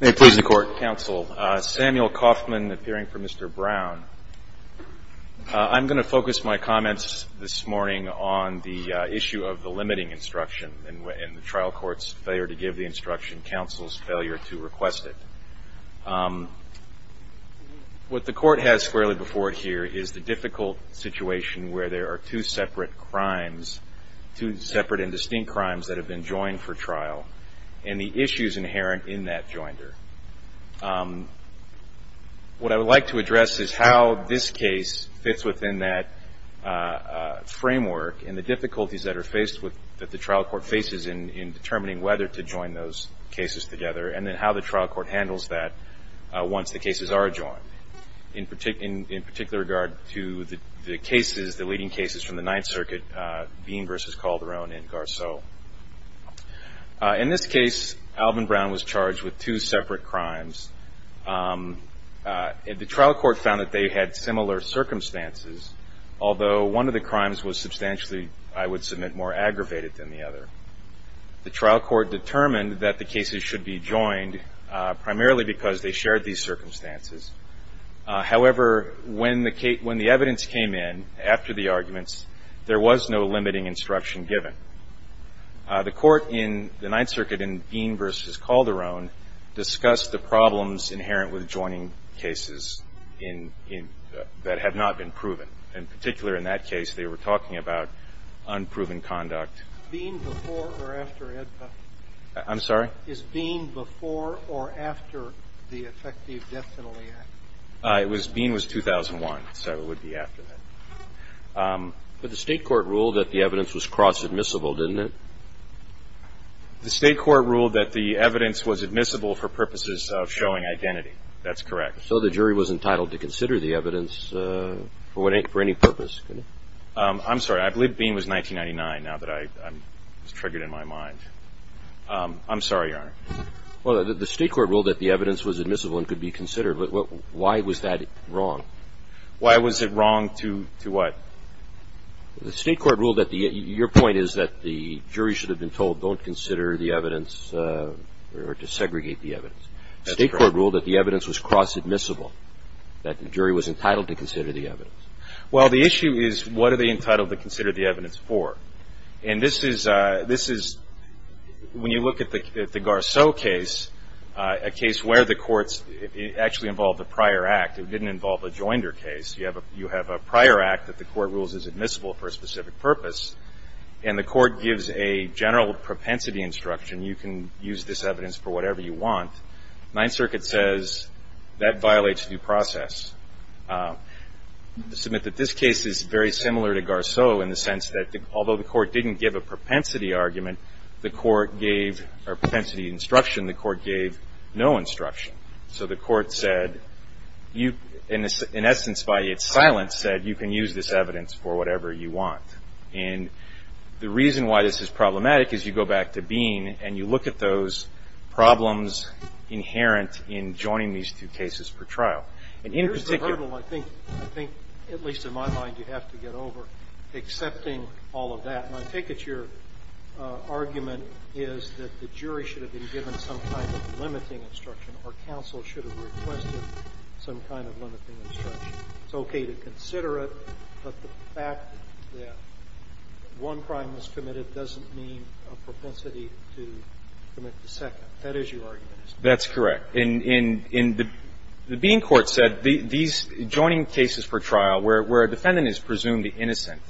May it please the Court, Counsel. Samuel Kaufman, appearing for Mr. Brown. I'm going to focus my comments this morning on the issue of the limiting instruction and the trial court's failure to give the instruction, counsel's failure to request it. What the Court has squarely before it here is the difficult situation where there are two separate crimes, two separate and distinct crimes that have been joined for trial and the issues inherent in that joinder. What I would like to address is how this case fits within that framework and the difficulties that are faced with, that the trial court faces in determining whether to join those cases together and then how the trial court handles that once the cases are joined. In particular regard to the cases, the leading cases from the Ninth Circuit, Bean v. Calderon and Garceau. In this case, Alvin Brown was charged with two separate crimes. The trial court found that they had similar circumstances, although one of the crimes was substantially, I would submit, more aggravated than the other. The trial court determined that the cases should be joined primarily because they shared these circumstances. However, when the evidence came in after the arguments, there was no limiting instruction given. The Court in the Ninth Circuit in Bean v. Calderon discussed the problems inherent with joining cases that have not been proven. In particular, in that case, they were talking about unproven conduct. Is Bean before or after the Effective Death Penalty Act? It was, Bean was 2001, so it would be after that. But the state court ruled that the evidence was cross-admissible, didn't it? The state court ruled that the evidence was admissible for purposes of showing identity. That's correct. So the jury was entitled to consider the evidence for any purpose? I'm sorry. I believe Bean was 1999, now that I'm triggered in my mind. I'm sorry, Your Honor. Well, the state court ruled that the evidence was admissible and could be considered. Why was that wrong? Why was it wrong to what? The state court ruled that the – your point is that the jury should have been told, don't consider the evidence or to segregate the evidence. That's correct. The state court ruled that the evidence was cross-admissible, that the jury was entitled to consider the evidence. Well, the issue is, what are they entitled to consider the evidence for? And this is – this is – when you look at the Garceau case, a case where the courts – it actually involved a prior act. It didn't involve a joinder case. You have a prior act that the court rules is admissible for a specific purpose, and the court gives a general propensity instruction. You can use this evidence for whatever you want. Ninth Circuit says that violates due process. I submit that this case is very similar to Garceau in the sense that although the court didn't give a propensity argument, the court gave – or propensity instruction, the court gave no instruction. So the court said – in essence, by its silence, said you can use this evidence for whatever you want, and the reason why this is problematic is you go back to Bean and you look at those problems inherent in joining these two cases per trial. And in particular – Here's the hurdle I think – I think at least in my mind you have to get over, accepting all of that. And I think it's your argument is that the jury should have been given some kind of limiting instruction or counsel should have requested some kind of limiting instruction. It's okay to consider it, but the fact that one crime was committed doesn't mean a propensity to commit the second. That is your argument. That's correct. In – the Bean court said these joining cases per trial where a defendant is presumed innocent,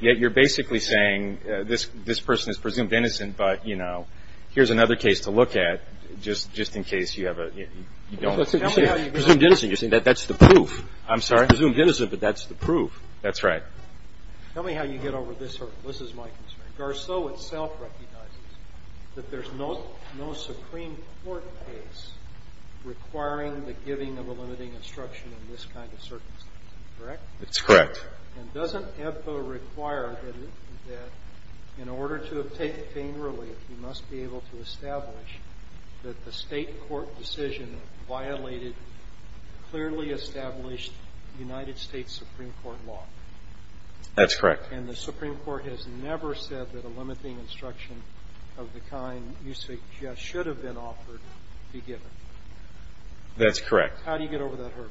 yet you're basically saying this person is presumed innocent, but, you know, here's another case to look at just in case you have a – you don't – Tell me how you get over – Presumed innocent. You're saying that's the proof. I'm sorry. Presumed innocent, but that's the proof. That's right. Tell me how you get over this hurdle. This is my concern. Garceau itself recognizes that there's no – no Supreme Court case requiring the giving of a limiting instruction in this kind of circumstance, correct? That's correct. And doesn't EBPA require that in order to take pain relief, you must be able to establish that the state court decision violated clearly established United States Supreme Court law? That's correct. And the Supreme Court has never said that a limiting instruction of the kind you suggest should have been offered be given? That's correct. How do you get over that hurdle?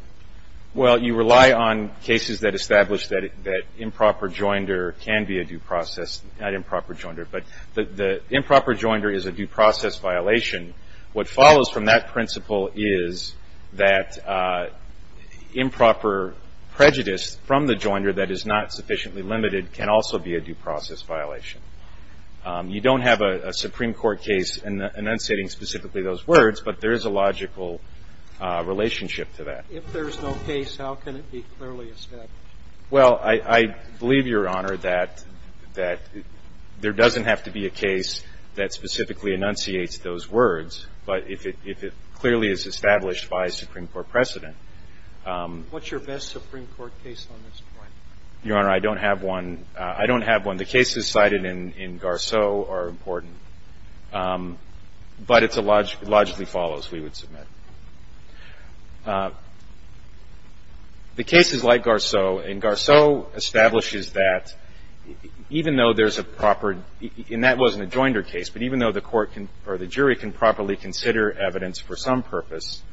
Well, you rely on cases that establish that improper joinder can be a due process – not improper joinder, but the improper joinder is a due process violation. What follows from that principle is that improper prejudice from the joinder that is not sufficiently limited can also be a due process violation. You don't have a Supreme Court case enunciating specifically those words, but there is a logical relationship to that. If there's no case, how can it be clearly established? Well, I believe, Your Honor, that there doesn't have to be a case that specifically enunciates those words, but if it clearly is established by a Supreme Court precedent – What's your best Supreme Court case on this point? Your Honor, I don't have one. I don't have one. The cases cited in Garceau are important, but it logically follows, we would submit. The cases like Garceau – and Garceau establishes that even though there's a proper – and that wasn't a joinder case, but even though the court can – or the jury can properly consider evidence for some purpose,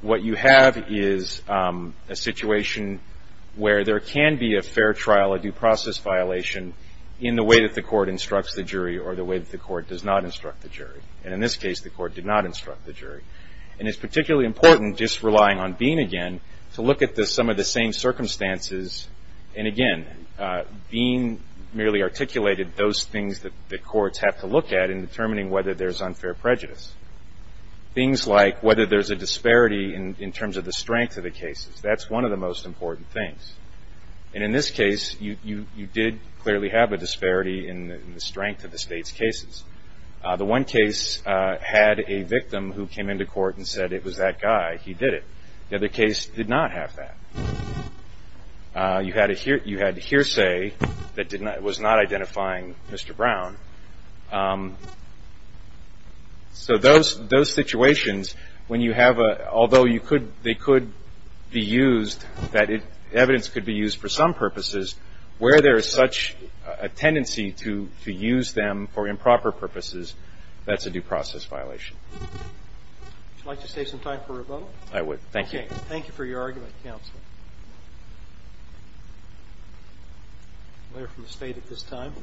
what you have is a situation where there can be a fair trial, a due process violation, in the way that the court instructs the jury or the way that the court does not instruct the jury, and in this case, the court did not instruct the jury. And it's particularly important, just relying on Bean again, to look at some of the same circumstances – and again, Bean merely articulated those things that courts have to look at in prejudice. Things like whether there's a disparity in terms of the strength of the cases. That's one of the most important things. And in this case, you did clearly have a disparity in the strength of the state's cases. The one case had a victim who came into court and said, it was that guy. He did it. The other case did not have that. You had a hearsay that was not identifying Mr. Brown. So those situations, when you have a – although you could – they could be used, that evidence could be used for some purposes, where there is such a tendency to use them for improper purposes, that's a due process violation. Would you like to save some time for rebuttal? I would. Thank you. Okay. Thank you for your argument, counsel. A lawyer from the state at this time.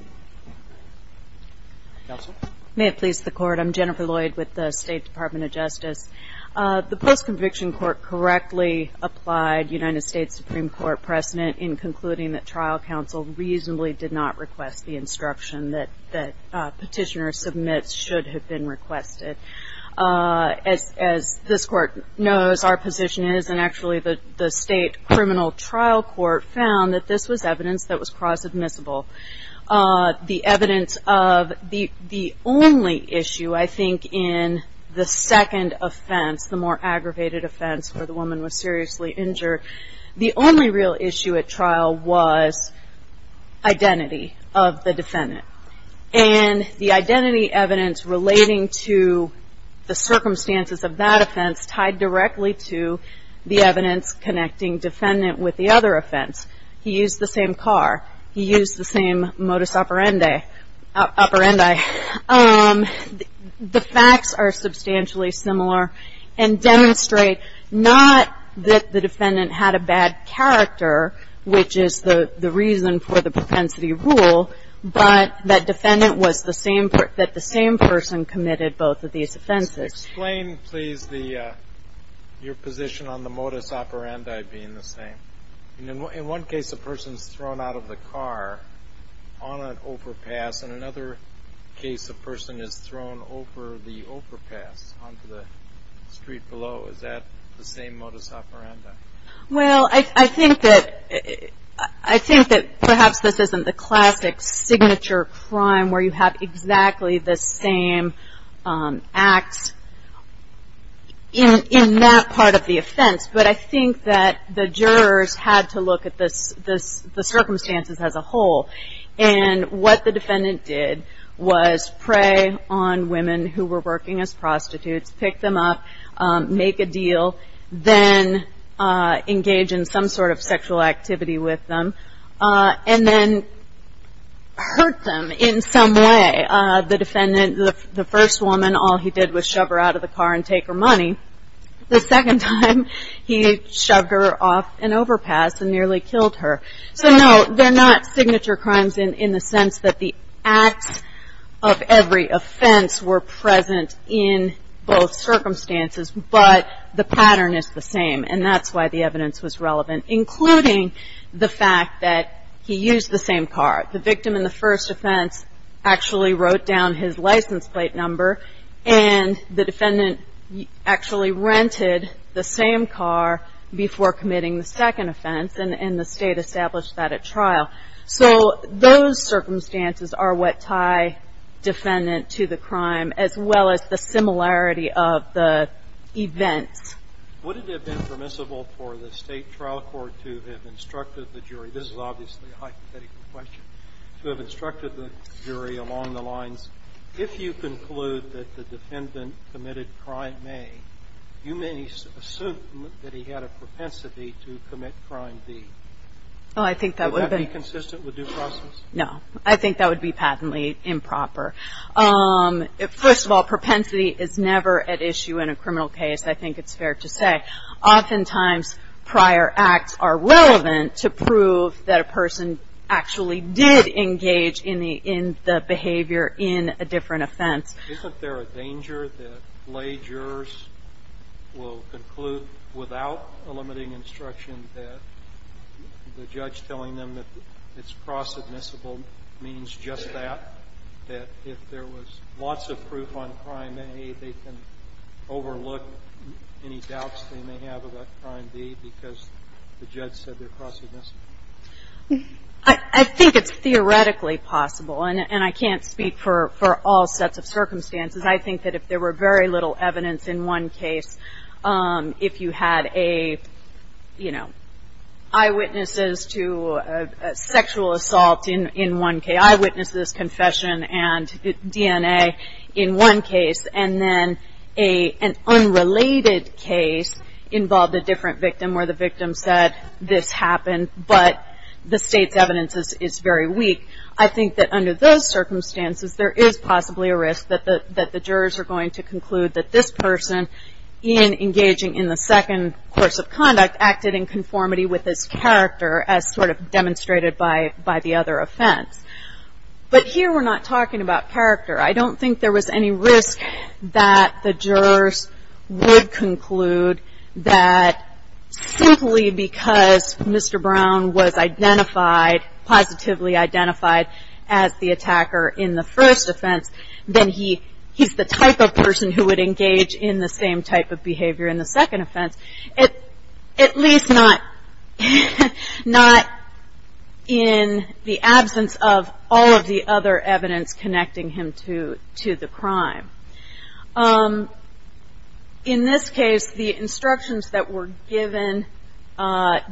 Counsel? May it please the Court, I'm Jennifer Lloyd with the State Department of Justice. The post-conviction court correctly applied United States Supreme Court precedent in concluding that trial counsel reasonably did not request the instruction that petitioner submits should have been requested. As this Court knows, our position is, and actually the state criminal trial court found that this was evidence that was cross-admissible. The evidence of – the only issue, I think, in the second offense, the more aggravated offense where the woman was seriously injured, the only real issue at trial was identity of the defendant. And the identity evidence relating to the circumstances of that offense tied directly to the evidence connecting defendant with the other offense. He used the same car. He used the same modus operandi. The facts are substantially similar and demonstrate not that the defendant had a bad character, which is the reason for the propensity rule, but that defendant was the same – that the same person committed both of these offenses. Explain, please, the – your position on the modus operandi being the same. In one case, a person is thrown out of the car on an overpass, and another case, a person is thrown over the overpass onto the street below. Is that the same modus operandi? Well, I think that – I think that perhaps this isn't the classic signature crime where you have exactly the same acts in that part of the offense, but I think that the jurors had to look at the circumstances as a whole. And what the defendant did was prey on women who were working as prostitutes, pick them up, make a deal, then engage in some sort of sexual activity with them, and then hurt them in some way. The defendant – the first woman, all he did was shove her out of the car and take her money. The second time, he shoved her off an overpass and nearly killed her. So, no, they're not signature crimes in the sense that the acts of every offense were present in both circumstances, but the pattern is the same, and that's why the evidence was relevant, including the fact that he used the same car. The victim in the first offense actually wrote down his license plate number, and the defendant actually rented the same car before committing the second offense, and the state established that at trial. So those circumstances are what tie defendant to the crime, as well as the similarity of the events. Would it have been permissible for the state trial court to have instructed the jury – this is obviously a hypothetical question – to have instructed the jury along the lines, if you conclude that the defendant committed crime A, you may assume that he had a propensity to commit crime B? I don't know. I don't know. I don't know. I don't know. I don't know. I don't know. Would that be consistent with due process? No. I think that would be patently improper. First of all, propensity is never at issue in a criminal case, I think it's fair to say. Oftentimes, prior acts are relevant to prove that a person actually did engage in the behavior in a different offense. Isn't there a danger that lay jurors will conclude without a limiting instruction that the judge telling them that it's cross-admissible means just that, that if there was lots of proof on crime A, they can overlook any doubts they may have about crime B because the judge said they're cross-admissible? I think it's theoretically possible, and I can't speak for all sets of circumstances. I think that if there were very little evidence in one case, if you had eyewitnesses to sexual assault in one case, eyewitnesses, confession, and DNA in one case, and then an unrelated case involved a different victim where the victim said this happened, but the state's evidence is very weak, I think that under those circumstances there is possibly a risk that the jurors are going to conclude that this person, in engaging in the second course of conduct, acted in conformity with his character as sort of demonstrated by the other offense. But here we're not talking about character. I don't think there was any risk that the jurors would conclude that simply because Mr. Brown was identified, positively identified, as the attacker in the first offense, then he's the type of person who would engage in the same type of behavior in the second offense. At least not in the absence of all of the other evidence connecting him to the crime. In this case, the instructions that were given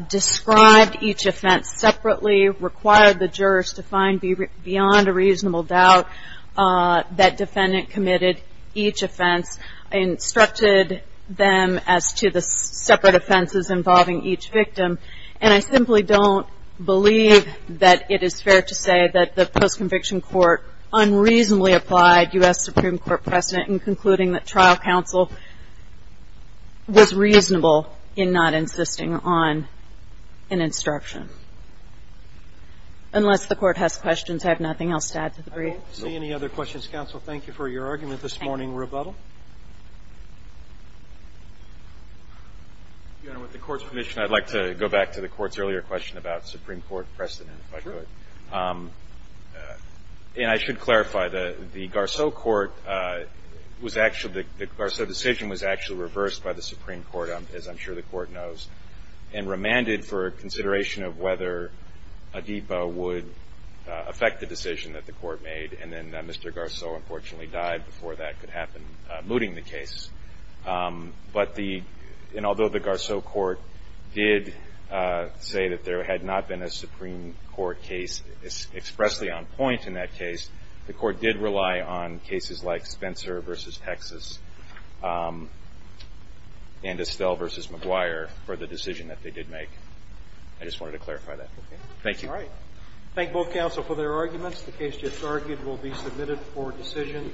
described each offense separately, required the jurors to find beyond a reasonable doubt that defendant committed each offense, instructed them as to the separate offenses involving each victim, and I simply don't believe that it is fair to say that the post-conviction court unreasonably applied U.S. Supreme Court precedent in concluding that trial counsel was reasonable in not insisting on an instruction. Unless the Court has questions, I have nothing else to add to the brief. I don't see any other questions, counsel. Thank you for your argument this morning. Thank you. Rebuttal? Your Honor, with the Court's permission, I'd like to go back to the Court's earlier question about Supreme Court precedent, if I could. Sure. And I should clarify, the Garceau Court was actually, the Garceau decision was actually reversed by the Supreme Court, as I'm sure the Court knows, and remanded for consideration of whether a DEPA would affect the decision that the Court made, and then Mr. Garceau unfortunately died before that could happen, mooting the case. But the, and although the Garceau Court did say that there had not been a Supreme Court case expressly on point in that case, the Court did rely on cases like Spencer v. Texas and Estelle v. McGuire for the decision that they did make. I just wanted to clarify that. Okay. Thank you. All right. Thank both counsel for their arguments. The case just argued will be submitted for decision.